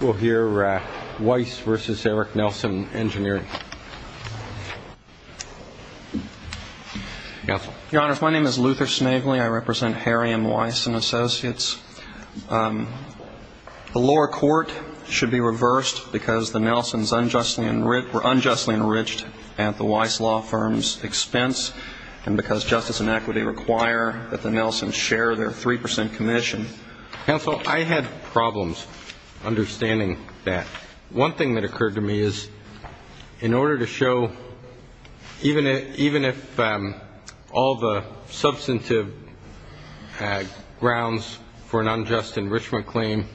We'll hear Weiss v. Eric Nelson, Engineering. Counsel. Your Honors, my name is Luther Snavely. I represent Harry M. Weiss & Associates. The lower court should be reversed because the Nelsons were unjustly enriched at the Weiss law firm's expense and because justice and equity require that the Nelsons share their 3% commission. Counsel, I had problems understanding that. One thing that occurred to me is, in order to show even if all the substantive grounds for an unjust enrichment claim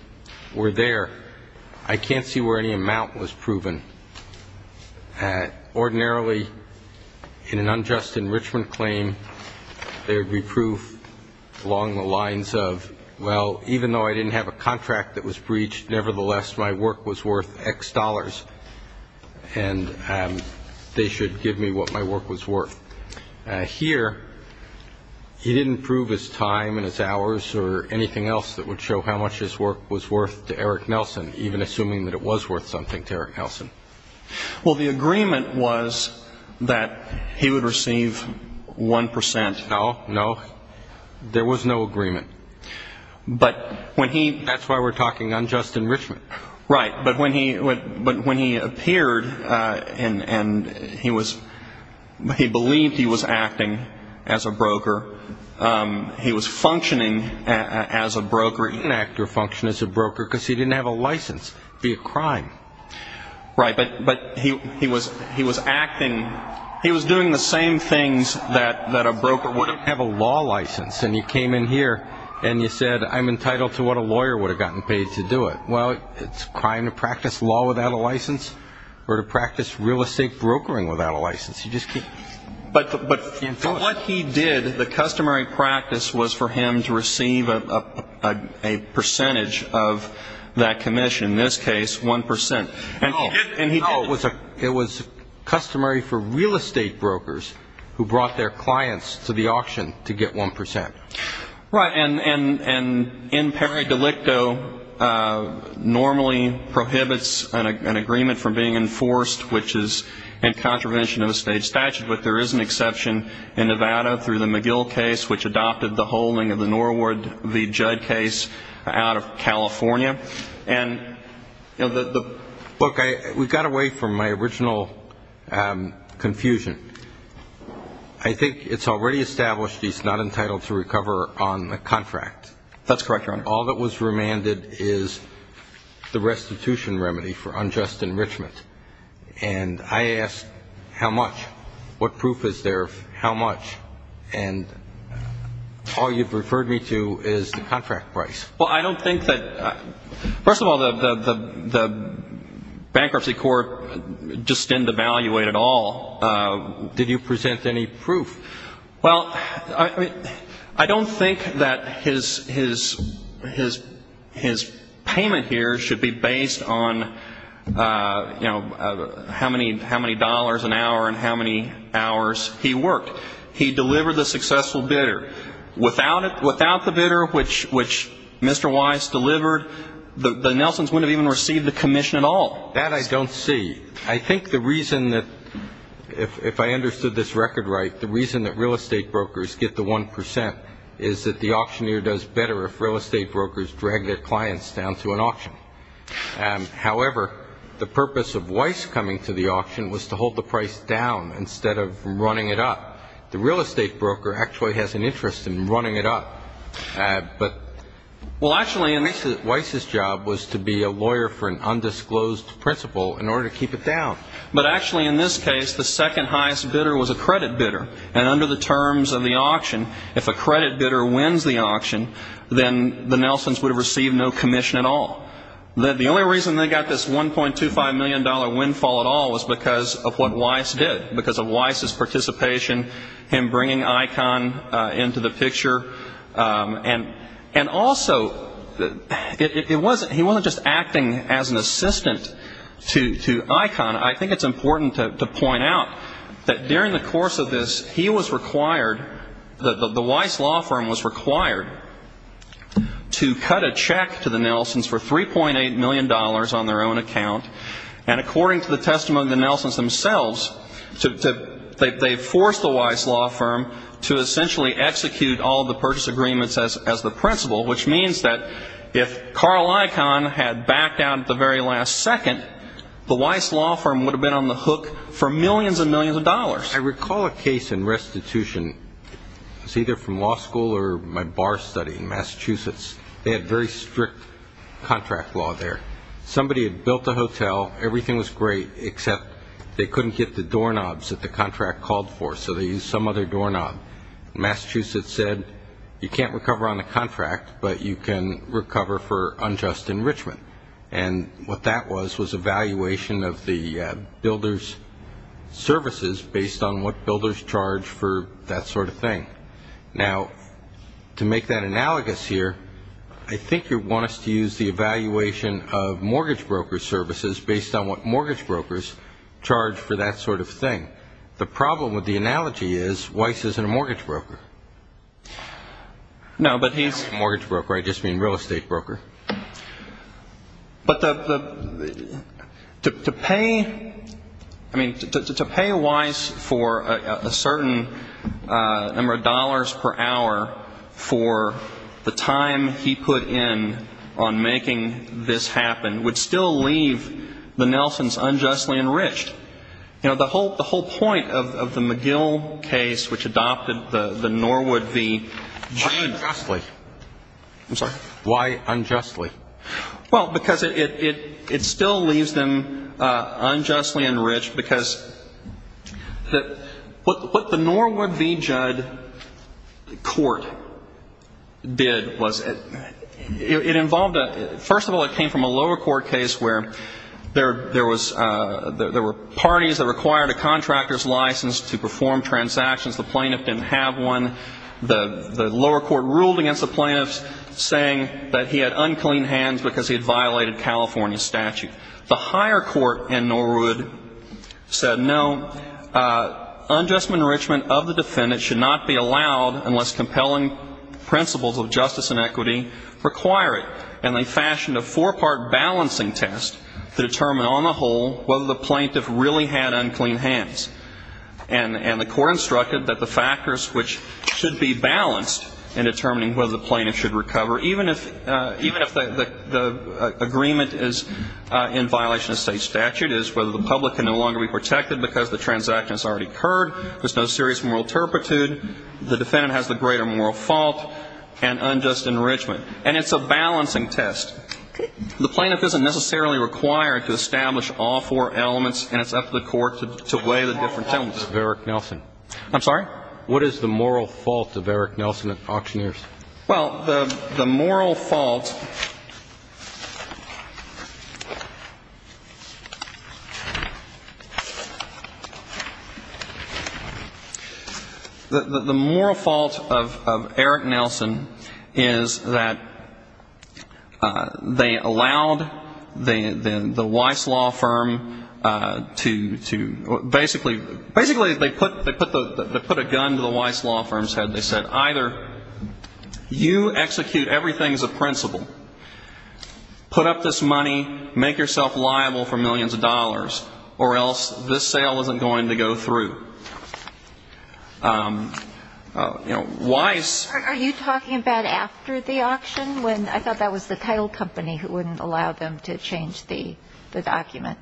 were there, I can't see where any amount was proven. Ordinarily, in an unjust enrichment claim, there would be proof along the lines of, well, even though I didn't have a contract that was breached, nevertheless, my work was worth X dollars, and they should give me what my work was worth. Here, he didn't prove his time and his hours or anything else that would show how much his work was worth to Eric Nelson, even assuming that it was worth something to Eric Nelson. Well, the agreement was that he would receive 1%. No, no, there was no agreement. That's why we're talking unjust enrichment. But when he appeared and he was he believed he was acting as a broker, he was functioning as a broker, he didn't act or function as a broker because he didn't have a license via crime. But he was acting, he was doing the same things that a broker would do. You came in here and you said, I'm entitled to what a lawyer would have gotten paid to do it. Well, it's crime to practice law without a license or to practice real estate brokering without a license. But what he did, the customary practice was for him to receive a percentage of that commission, in this case 1%. No, it was customary for real estate brokers who brought their clients to the auction to get 1%. Right, and in peri delicto normally prohibits an agreement from being enforced which is in contravention of a state statute, but there is an exception in Nevada through the McGill case which adopted the holding of the Norwood v. Judd case out of California. Look, we've got away from my original confusion. I think it's already established he's not entitled to recover on the contract. That's correct, Your Honor. All that was remanded is the restitution remedy for unjust enrichment. And I asked, how much? What proof is there of how much? And all you've referred me to is the contract price. Well, I don't think that, first of all, the bankruptcy court just didn't evaluate at all. Did you present any proof? Well, I don't think that his payment here should be based on how many dollars an hour and how many hours he worked. He delivered the successful bidder. Without the bidder, which Mr. Weiss delivered, the Nelsons wouldn't have even received the commission at all. That I don't see. I think the reason that, if I understood this record right, the reason that real estate brokers get the 1% is that the auctioneer does better if real estate brokers drag their clients down to an auction. However, the purpose of Weiss coming to the auction was to hold the price down instead of running it up. The real estate broker actually has an interest in running it up. Well, actually, Weiss's job was to be a lawyer for an undisclosed principal in order to keep it down. But actually, in this case, the second highest bidder was a credit bidder. And under the terms of the auction, if a credit bidder wins the auction, then the Nelsons would have received no commission at all. The only reason they got this $1.25 million windfall at all was because of what Weiss did, because of Weiss's participation, him bringing ICON into the picture. And also, he wasn't just acting as an assistant to ICON. I think it's important to point out that during the course of this, he was required, the Weiss law firm was required, to cut a check to the Nelsons for $3.8 million on their own account. And according to the testimony of the Nelsons themselves, they forced the Weiss law firm to essentially execute all of the purchase agreements as the principal, which means that if Carl ICON had backed out at the very last second, the Weiss law firm would have been on the hook for millions and millions of dollars. I recall a case in restitution. It was either from law school or my bar study in Massachusetts. They had very strict contract law there. Somebody had built a hotel. Everything was great, except they couldn't get the doorknobs that the contract called for, so they used some other doorknob. Massachusetts said, you can't recover on the contract, but you can recover for unjust enrichment. And what that was, was evaluation of the builder's services based on what builders charge for that sort of thing. Now, to make that analogous here, I think you'd want us to use the evaluation of mortgage broker services based on what mortgage brokers charge for that sort of thing. The problem with the analogy is Weiss isn't a mortgage broker. No, but he's a mortgage broker. I just mean real estate broker. But to pay Weiss for a certain number of dollars per hour for the time he put in on making this happen would still leave the Nelsons unjustly enriched. The whole point of the McGill case which adopted the Norwood v. Judd Why unjustly? Well, because it still leaves them unjustly enriched because what the Norwood v. Judd court did was it involved, first of all, it came from a lower court case where there were parties that required a contractor's license to perform transactions. The plaintiff didn't have one. The lower court ruled against the plaintiffs saying that he had unclean hands because he had violated California statute. The higher court in Norwood said no, unjust enrichment of the defendant should not be allowed unless compelling principles of justice and equity require it. And they fashioned a four-part balancing test to determine on the whole whether the plaintiff really had unclean hands. And the court instructed that the factors which should be balanced in determining whether the plaintiff should recover, even if the agreement is in violation of state statute, is whether the public can no longer be protected because the transaction has already occurred, there's no serious moral turpitude, the defendant has the greater moral fault, and unjust enrichment. And it's a balancing test. The plaintiff isn't necessarily required to establish all four elements, and it's up to the court to weigh the different elements. What is the moral fault of Eric Nelson and auctioneers? Well, the moral fault of Eric Nelson is that they allowed the Weiss law firm to basically they put a gun to the Weiss law firm's head. They said, or you execute everything as a principle. Put up this money, make yourself liable for millions of dollars, or else this sale isn't going to go through. You know, Weiss --" Are you talking about after the auction, when I thought that was the title company who wouldn't allow them to change the document?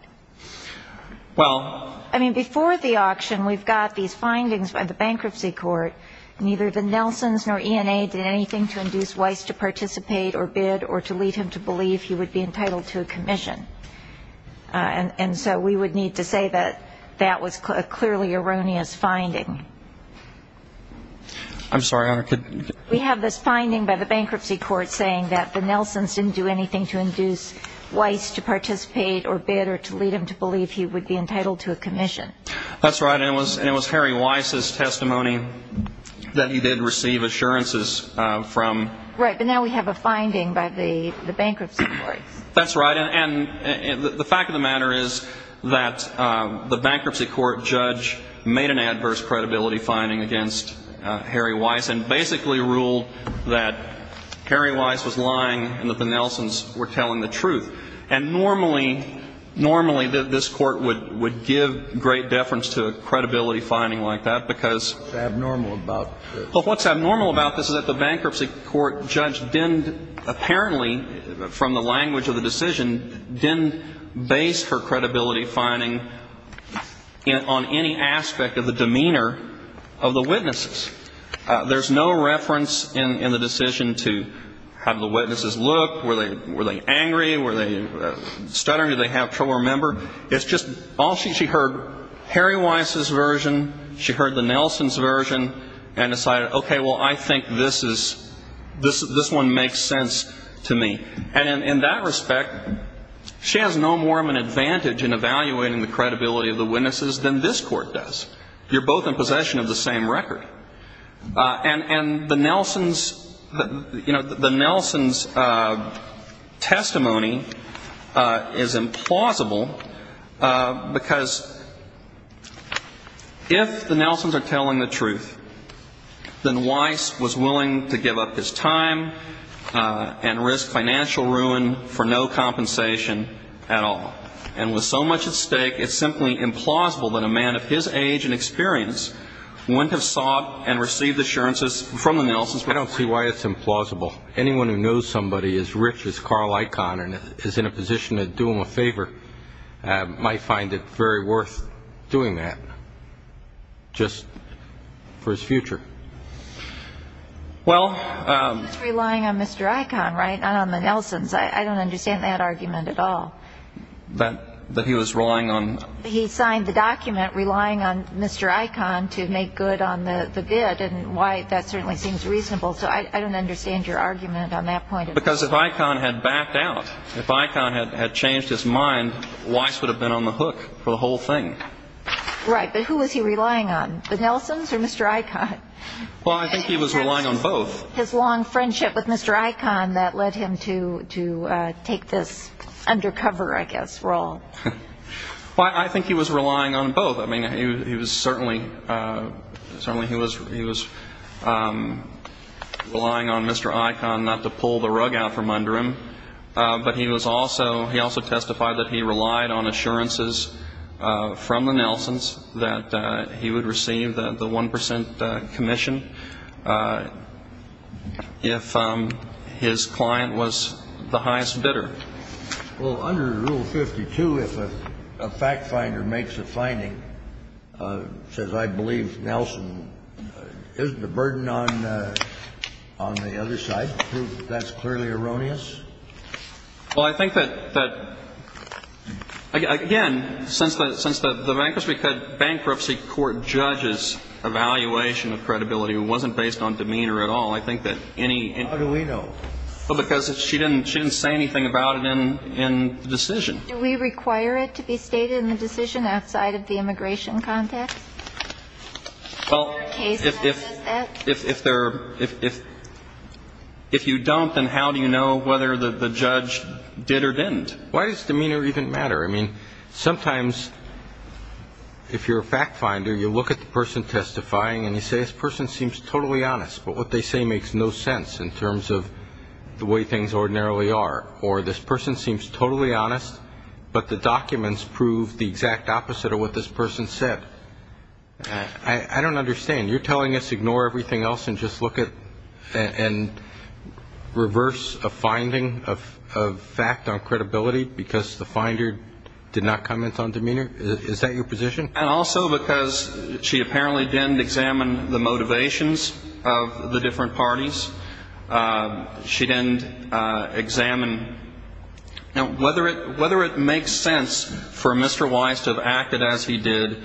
Well, I mean, before the auction, we've got these findings by the bankruptcy court, neither the Nelsons nor ENA did anything to induce Weiss to participate or bid or to lead him to believe he would be entitled to a commission. And so we would need to say that that was a clearly erroneous finding. We have this finding by the bankruptcy court saying that the Nelsons didn't do anything to induce Weiss to participate or bid or to lead him to believe he would be entitled to a commission. That's right, and it was Harry Weiss' testimony that he did receive assurances from... Right, but now we have a finding by the bankruptcy court. That's right, and the fact of the matter is that the bankruptcy court judge made an adverse credibility finding against Harry Weiss and basically ruled that Harry Weiss was lying and that the Nelsons were telling the truth. And normally, normally this court would give great deference to a credibility finding like that because... It's abnormal about this is that the bankruptcy court judge didn't apparently, from the language of the decision, didn't base her credibility finding on any aspect of the demeanor of the witnesses. There's no reference in the decision to how did the witnesses look, were they angry, were they stuttering, did they have trouble remembering? It's just all she heard and decided, okay, well, I think this one makes sense to me. And in that respect, she has no more of an advantage in evaluating the credibility of the witnesses than this court does. You're both in possession of the same record. And the Nelsons' testimony is implausible because if the Nelsons are telling the truth, then Weiss was willing to give up his time and risk financial ruin for no compensation at all. And with so much at stake, it's simply implausible that a man of his age and experience wouldn't have sought and received assurances from the Nelsons. I don't see why it's implausible. Anyone who knows somebody as rich as Carl Icahn and is in a position to do him a favor might find it very worth doing that. Just for his future. Well... He was relying on Mr. Icahn, right? Not on the Nelsons. I don't understand that argument at all. That he was relying on... He signed the document relying on Mr. Icahn to make good on the bid and why that certainly seems reasonable. So I don't understand your argument on that point at all. Because if Icahn had backed out, if Icahn had changed his mind, Weiss would have been on the hook for the whole thing. Right. But who was he relying on? The Nelsons or Mr. Icahn? Well, I think he was relying on both. His long friendship with Mr. Icahn that led him to take this undercover, I guess, role. Well, I think he was relying on both. I mean, he was certainly... relying on Mr. Icahn not to pull the rug out from under him. But he also testified that he relied on the Nelsons that he would receive the 1 percent commission if his client was the highest bidder. Well, under Rule 52, if a fact finder makes a finding says, I believe Nelson is the burden on the other side, prove that that's clearly erroneous? Well, I think that, again, since the Bankruptcy Court judges evaluation of credibility wasn't based on demeanor at all, I think that any... How do we know? Well, because she didn't say anything about it in the decision. Do we require it to be stated in the decision outside of the immigration context? If you don't, then how do you know whether the judge did or didn't? Why does demeanor even matter? I mean, sometimes if you're a fact finder, you look at the person testifying and you say, this person seems totally honest, but what they say makes no sense in terms of the way things ordinarily are. Or, this person seems totally honest, but the documents prove the exact opposite of what this person said. I don't understand. You're telling us ignore everything else and just look at and reverse a finding of fact on credibility because the finder did not comment on demeanor? Is that your position? And also because she apparently didn't examine the motivations of the different parties. She didn't examine whether it makes sense for Mr. Wise to have acted as he did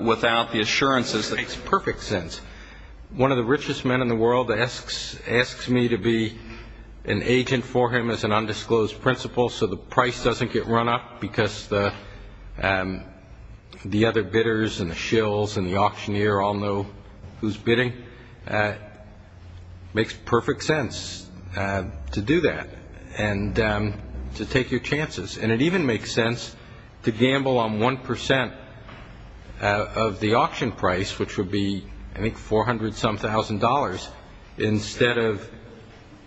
without the assurances. It makes perfect sense. One of the richest men in the world asks me to be an agent for him as an undisclosed principal so the price doesn't get run up because the other bidders and the shills and the auctioneer all know who's bidding. It makes perfect sense to do that and to take your chances. And it even makes sense to gamble on 1% of the auction price, which would be, I think, 400-some thousand dollars, instead of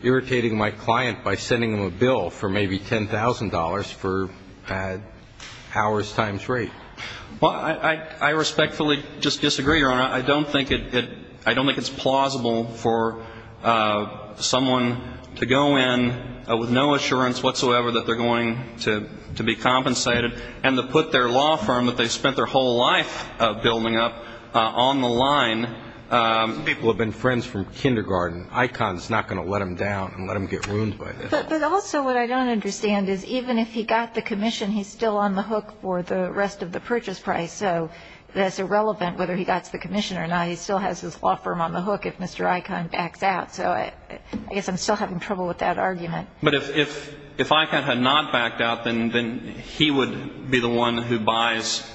irritating my client by sending him a bill for maybe $10,000 for an hours times rate. I respectfully disagree, Your Honor. I don't think it's plausible for someone to go in with no assurance whatsoever that they're going to be compensated and to put their law firm that they spent their whole life building up on the line. Some people have been friends from kindergarten. Icahn's not going to let them down and let them get ruined by this. But also what I don't understand is even if he got the commission, he's still on the hook for the rest of the purchase price. So that's irrelevant whether he got the commission or not. He still has his law firm on the hook if Mr. Icahn backs out. So I guess I'm still having trouble with that argument. But if Icahn had not backed out, then he would be the one who buys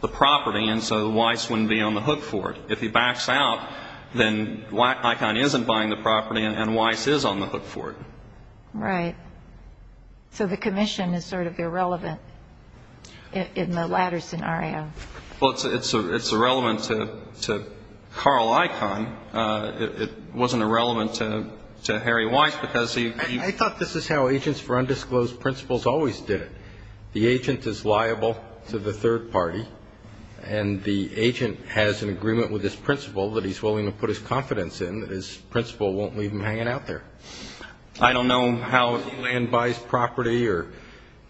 the property, and so Weiss wouldn't be on the hook for it. If he backs out, then Icahn isn't buying the property, and Weiss is on the hook for it. Right. So the commission is sort of irrelevant in the latter scenario. Well, it's irrelevant to Carl Icahn. It wasn't irrelevant to Harry Weiss because he... I thought this is how Agents for Undisclosed Principles always did it. The agent is liable to the third party, and the agent has an agreement with his principal that he's willing to put his confidence in. His principal won't leave him hanging out there. I don't know how Disneyland buys property or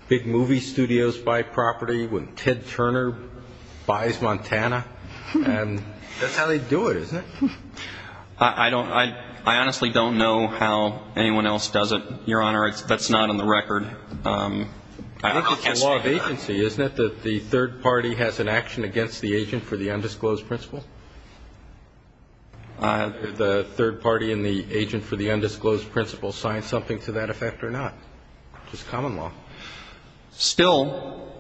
big movie studios buy property when Ted Turner buys Montana. That's how they do it, isn't it? I honestly don't know how anyone else does it, Your Honor. That's not on the record. I think it's the law of agency, isn't it, that the third party has an action against the agent for the undisclosed principle? The third party and the agent for the undisclosed principle sign something to that effect or not? It's common law. Still,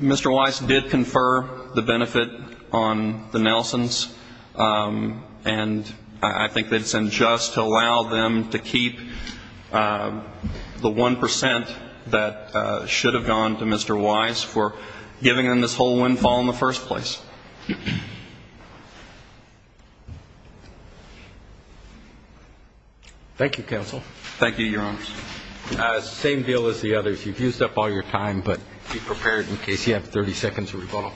Mr. Weiss did confer the benefit on the Nelsons, and I think that it's unjust to allow them to keep the 1 percent that should have gone to Mr. Weiss for giving them this whole windfall in the first place. Thank you, Counsel. Thank you, Your Honors. It's the same deal as the others. You've used up all your time, but be prepared in case you have 30 seconds of rebuttal.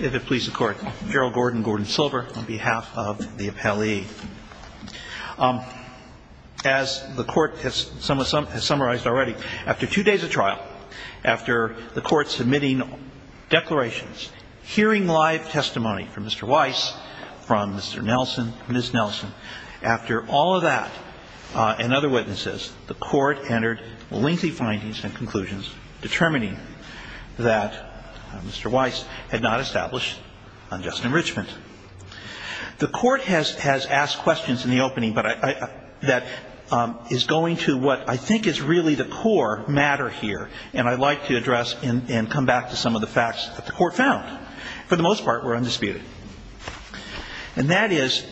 If it pleases the Court, Gerald Gordon, Gordon Silver, on behalf of the appellee. As the Court has summarized already, after two days of trial, after the Court submitting declarations, hearing live testimony from Mr. Weiss, from Mr. Nelson, Ms. Nelson, has submitted a written testimony. The Court entered lengthy findings and conclusions determining that Mr. Weiss had not established unjust enrichment. The Court has asked questions in the opening, but that is going to what I think is really the core matter here, and I'd like to address and come back to some of the facts that the Court found, for the most part, were undisputed. And that is,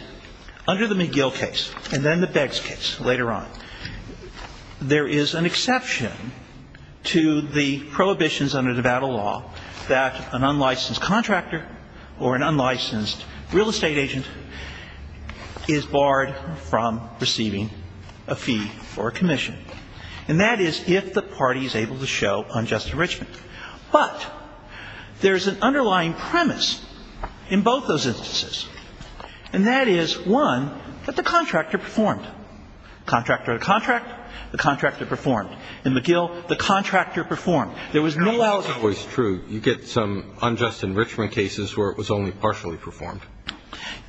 under the McGill case and then the Beggs case later on, there is an exception to the prohibitions under Nevada law that an unlicensed contractor or an unlicensed real estate agent is barred from receiving a fee for commission. And that is if the party is able to show unjust enrichment. But there is an underlying premise in both those instances, and that is, one, that the contractor performed. Contractor to contract, the contractor performed. In McGill, the contractor performed. There was no allocation. Kennedy, that's always true. You get some unjust enrichment cases where it was only partially performed.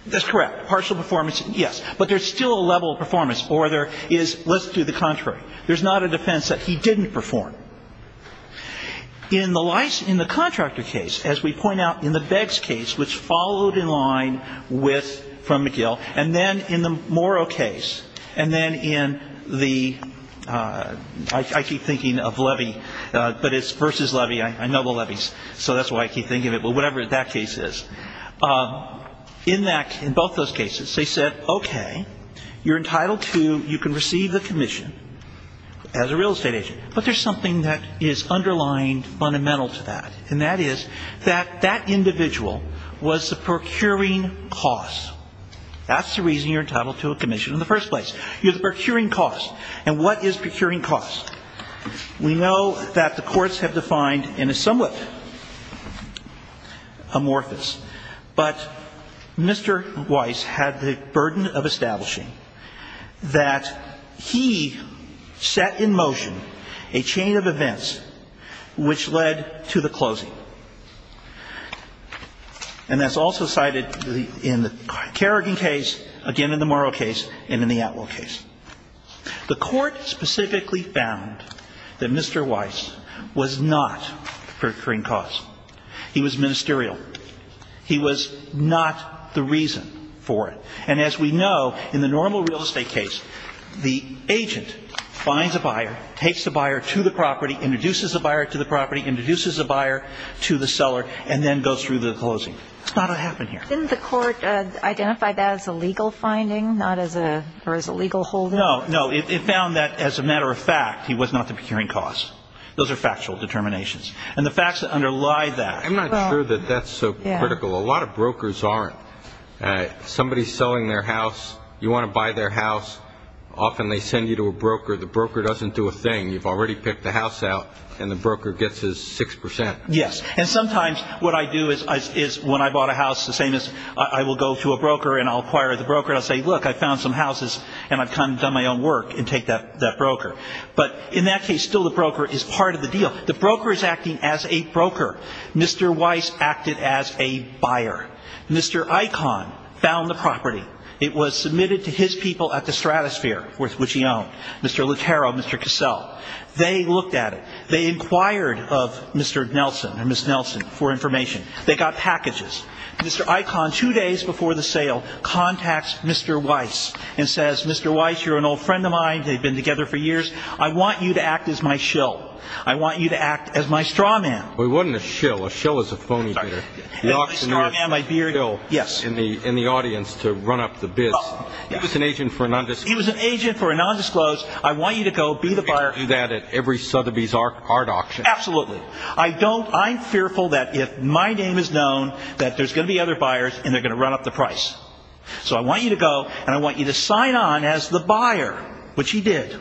That's correct. Partial performance, yes. But there's still a level of performance or there is, let's do the contrary. There's not a defense that he didn't perform. In the Weiss, in the contractor case, as we point out, in the Beggs case, which followed in line with, from McGill, and then in the Morrow case, and then in the I keep thinking of Levy, but it's versus Levy. I know the Levies, so that's why I keep thinking of it. But whatever that case is. In that, in both those cases, they said, okay, you're entitled to, you can receive the commission as a real estate agent. But there's something that is underlying fundamental to that. And that is that that individual was the procuring cost. That's the reason you're entitled to a commission in the first place. You're the procuring cost. And what is procuring cost? We know that the courts have defined in a somewhat amorphous, but Mr. Weiss had the burden of establishing that he set in motion a chain of events which led to the closing. And that's also cited in the Kerrigan case, again in the Morrow case, and in the Atwell case. The court specifically found that Mr. Weiss was not the procuring cost. He was ministerial. He was not the reason for it. And as we know, in the normal real estate case, the agent finds a buyer, takes the buyer to the property, introduces the buyer to the property, introduces the buyer to the seller, and then goes through the closing. That's not what happened here. Didn't the court identify that as a legal finding, not as a legal holding? No. No. It found that, as a matter of fact, he was not the procuring cost. Those are factual determinations. And the facts that underlie that I'm not sure that that's so critical. A lot of brokers aren't. Somebody's selling their house. You want to buy their house. Often they send you to a broker. The broker doesn't do a thing. You've already picked the house out. And the broker gets his 6 percent. Yes. And sometimes what I do is when I bought a house, the same as I will go to a broker and I'll acquire the broker, I'll say, look, I found some houses and I've kind of done my own work and take that broker. But in that case, still the broker is part of the deal. The broker is acting as a broker. Mr. Weiss acted as a buyer. Mr. Icahn found the property. It was submitted to his people at the Stratosphere, which he owned, Mr. Lucero, Mr. Cassell. They looked at it. They inquired of Mr. Nelson or Ms. Nelson for information. They got packages. Mr. Icahn, two days before the sale, contacts Mr. Weiss and says, Mr. Weiss, you're an old friend of mine. They've been together for years. I want you to act as my shill. I want you to act as my straw man. Well, he wasn't a shill. A shill is a phony bidder. The auctioneer is a shill in the audience to run up the bids. He was an agent for a nondisclosed. He was an agent for a nondisclosed. I can't do that at every Sotheby's art auction. Absolutely. I don't I'm fearful that if my name is known, that there's going to be other buyers and they're going to run up the price. So I want you to go and I want you to sign on as the buyer, which he did.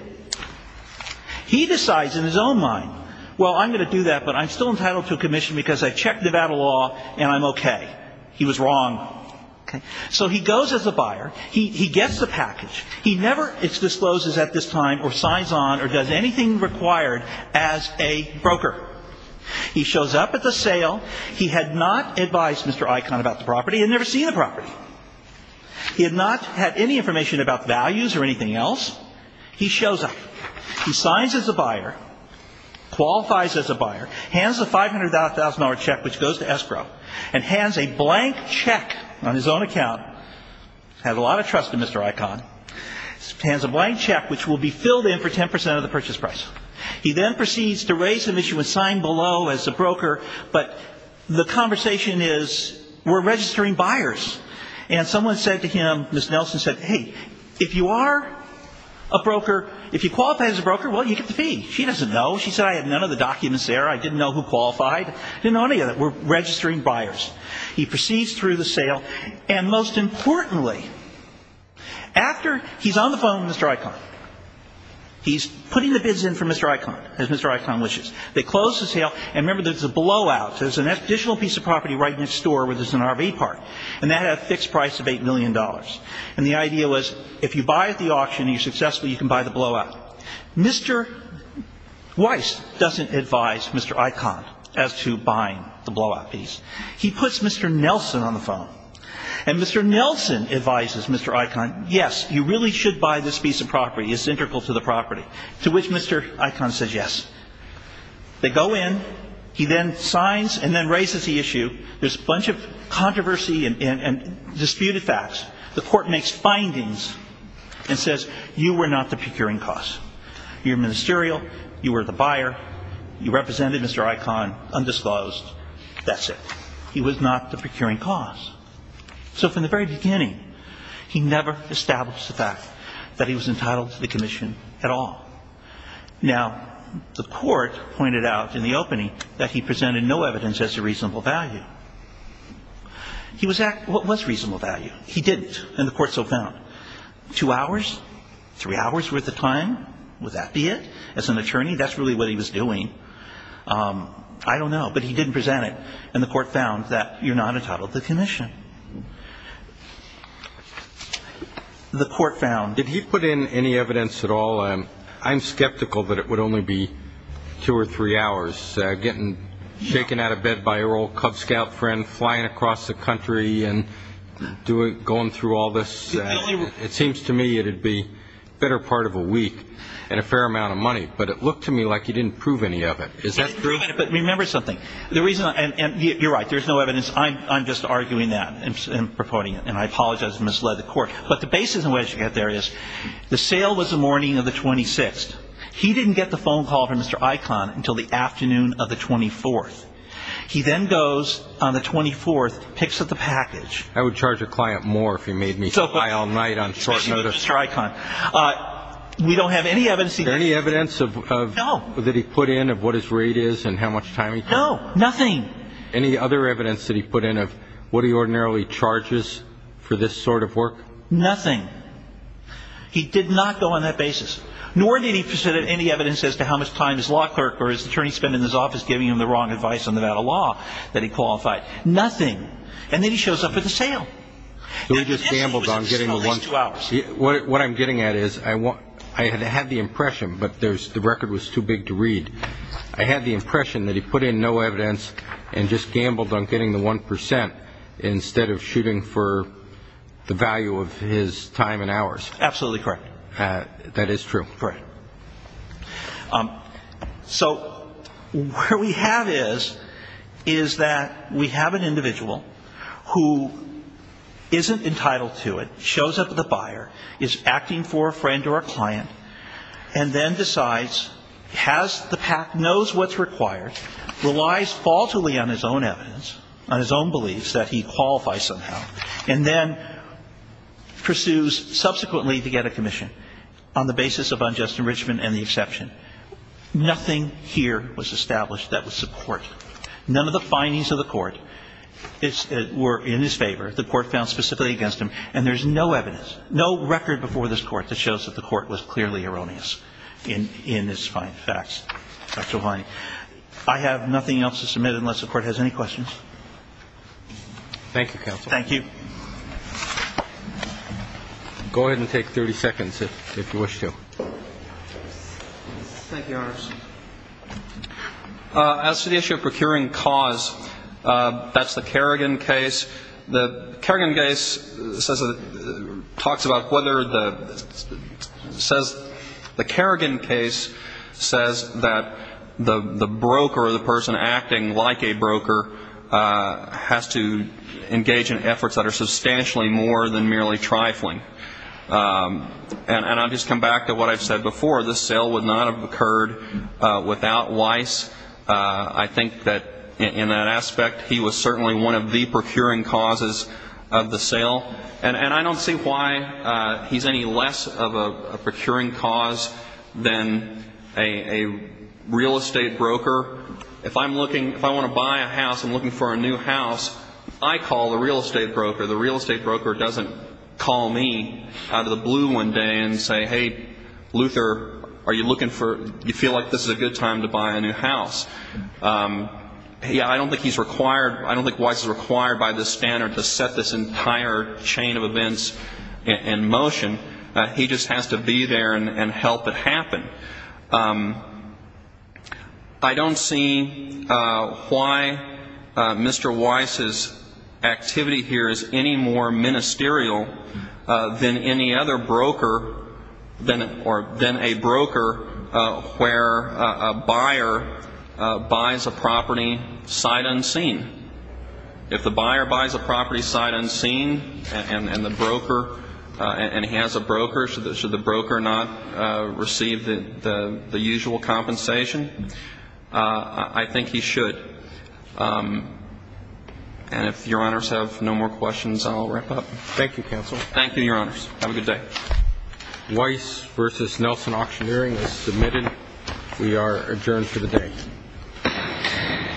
He decides in his own mind, well, I'm going to do that, but I'm still entitled to a commission because I checked Nevada law and I'm okay. He was wrong. Okay? So he goes as a buyer. He gets the package. He never discloses at this time or signs on or does anything required as a broker. He shows up at the sale. He had not advised Mr. Icahn about the property. He had never seen the property. He had not had any information about values or anything else. He shows up. He signs as a buyer, qualifies as a buyer, hands the $500,000 check, which goes to escrow, and hands a blank check on his own account. Had a lot of money. He hands a blank check, which will be filled in for 10% of the purchase price. He then proceeds to raise the mission and sign below as a broker, but the conversation is, we're registering buyers. And someone said to him, Ms. Nelson said, hey, if you are a broker, if you qualify as a broker, well, you get the fee. She doesn't know. She said I had none of the documents there. I didn't know who qualified. I didn't know any of that. We're registering buyers. He proceeds through the sale. And most importantly, after he's on the phone with Mr. Icahn, he's putting the bids in for Mr. Icahn, as Mr. Icahn wishes. They close the sale. And remember, there's a blowout. There's an additional piece of property right next door where there's an RV park. And that had a fixed price of $8 million. And the idea was, if you buy at the auction and you're successful, you can buy the blowout. Mr. Weiss doesn't advise Mr. Icahn as to buying the blowout piece. He puts Mr. Nelson on the phone. And Mr. Nelson advises Mr. Icahn, yes, you really should buy this piece of property. It's integral to the property. To which Mr. Icahn says yes. They go in. He then signs and then raises the issue. There's a bunch of controversy and disputed facts. The Court makes findings and says, you were not the procuring cost. You're ministerial. You were the buyer. You represented Mr. Icahn undisclosed. That's it. He was not the procuring cost. So from the very beginning, he never established the fact that he was entitled to the commission at all. Now, the Court pointed out in the opening that he presented no evidence as a reasonable value. He was at what was reasonable value. He didn't. And the Court so found. Two hours? Three hours' worth of time? Would that be it? As an attorney, that's really what he was doing. I don't know. But he didn't present it. And the Court found that you're not entitled to the commission. The Court found. Did he put in any evidence at all? I'm skeptical that it would only be two or three hours, getting shaken out of bed by your old Cub Scout friend, flying across the country and going through all this. It seems to me it would be a better part of a week and a fair amount of money. But it looked to me like he didn't prove any of it. Is that true? But remember something. The reason, and you're right, there's no evidence. I'm just arguing that and purporting it. And I apologize if I misled the Court. But the basis in which you get there is the sale was the morning of the 26th. He didn't get the phone call from Mr. Icahn until the afternoon of the 24th. He then goes on the 24th, picks up the package. I would charge a client more if he made me fly all night on short notice. Especially with Mr. Icahn. We don't have any evidence. Is there any evidence that he put in of what his time he took? No, nothing. Any other evidence that he put in of what he ordinarily charges for this sort of work? Nothing. He did not go on that basis. Nor did he present any evidence as to how much time his law clerk or his attorney spent in his office giving him the wrong advice on the matter of law that he qualified. Nothing. And then he shows up at the sale. So he just gambled on getting the one. What I'm getting at is I had the impression that he put in no evidence and just gambled on getting the one percent instead of shooting for the value of his time and hours. Absolutely correct. That is true. Correct. So where we have is, is that we have an individual who isn't entitled to it, shows up at the buyer, is acting for a friend or a client, and then decides, has the PAC, knows what's required, relies falsely on his own evidence, on his own beliefs that he qualifies somehow, and then pursues subsequently to get a commission on the basis of unjust enrichment and the exception. Nothing here was established that would support it. None of the findings of the Court were in his favor. The Court found specifically against him. And there's no evidence, no record before this Court that shows that the Court was clearly erroneous in its finding facts. I have nothing else to submit unless the Court has any questions. Thank you, counsel. Thank you. Go ahead and take 30 seconds if you wish to. Thank you, Your Honor. As to the issue of procuring cause, that's the Kerrigan case. The Kerrigan case says, talks about whether the, says, the Kerrigan case says that the broker or the person acting like a broker has to engage in efforts that are substantially more than merely trifling. And I'll just come back to what I've said before. This sale would not have occurred without Weiss. I think that in that aspect, he was certainly one of the procuring causes of the sale. And I don't see why he's any less of a procuring cause than a real estate broker. If I'm looking, if I want to buy a house, I'm looking for a new house, I call the real estate broker. The real estate broker doesn't call me out of the blue one day and say, hey, Luther, are you looking for, do you feel like this is a good time to buy a new house? I don't think he's required, I don't think Weiss is required by this entire chain of events in motion. He just has to be there and help it happen. I don't see why Mr. Weiss's activity here is any more ministerial than any other broker, or than a broker where a buyer buys a property sight unseen. If the buyer buys a property sight unseen, and the broker, and he has a broker, should the broker not receive the usual compensation? I think he should. And if Your Honors have no more questions, I'll wrap up. Thank you, Counsel. Thank you, Your Honors. Have a good day. Weiss v. Nelson Auctioneering is submitted. We are adjourned for the day.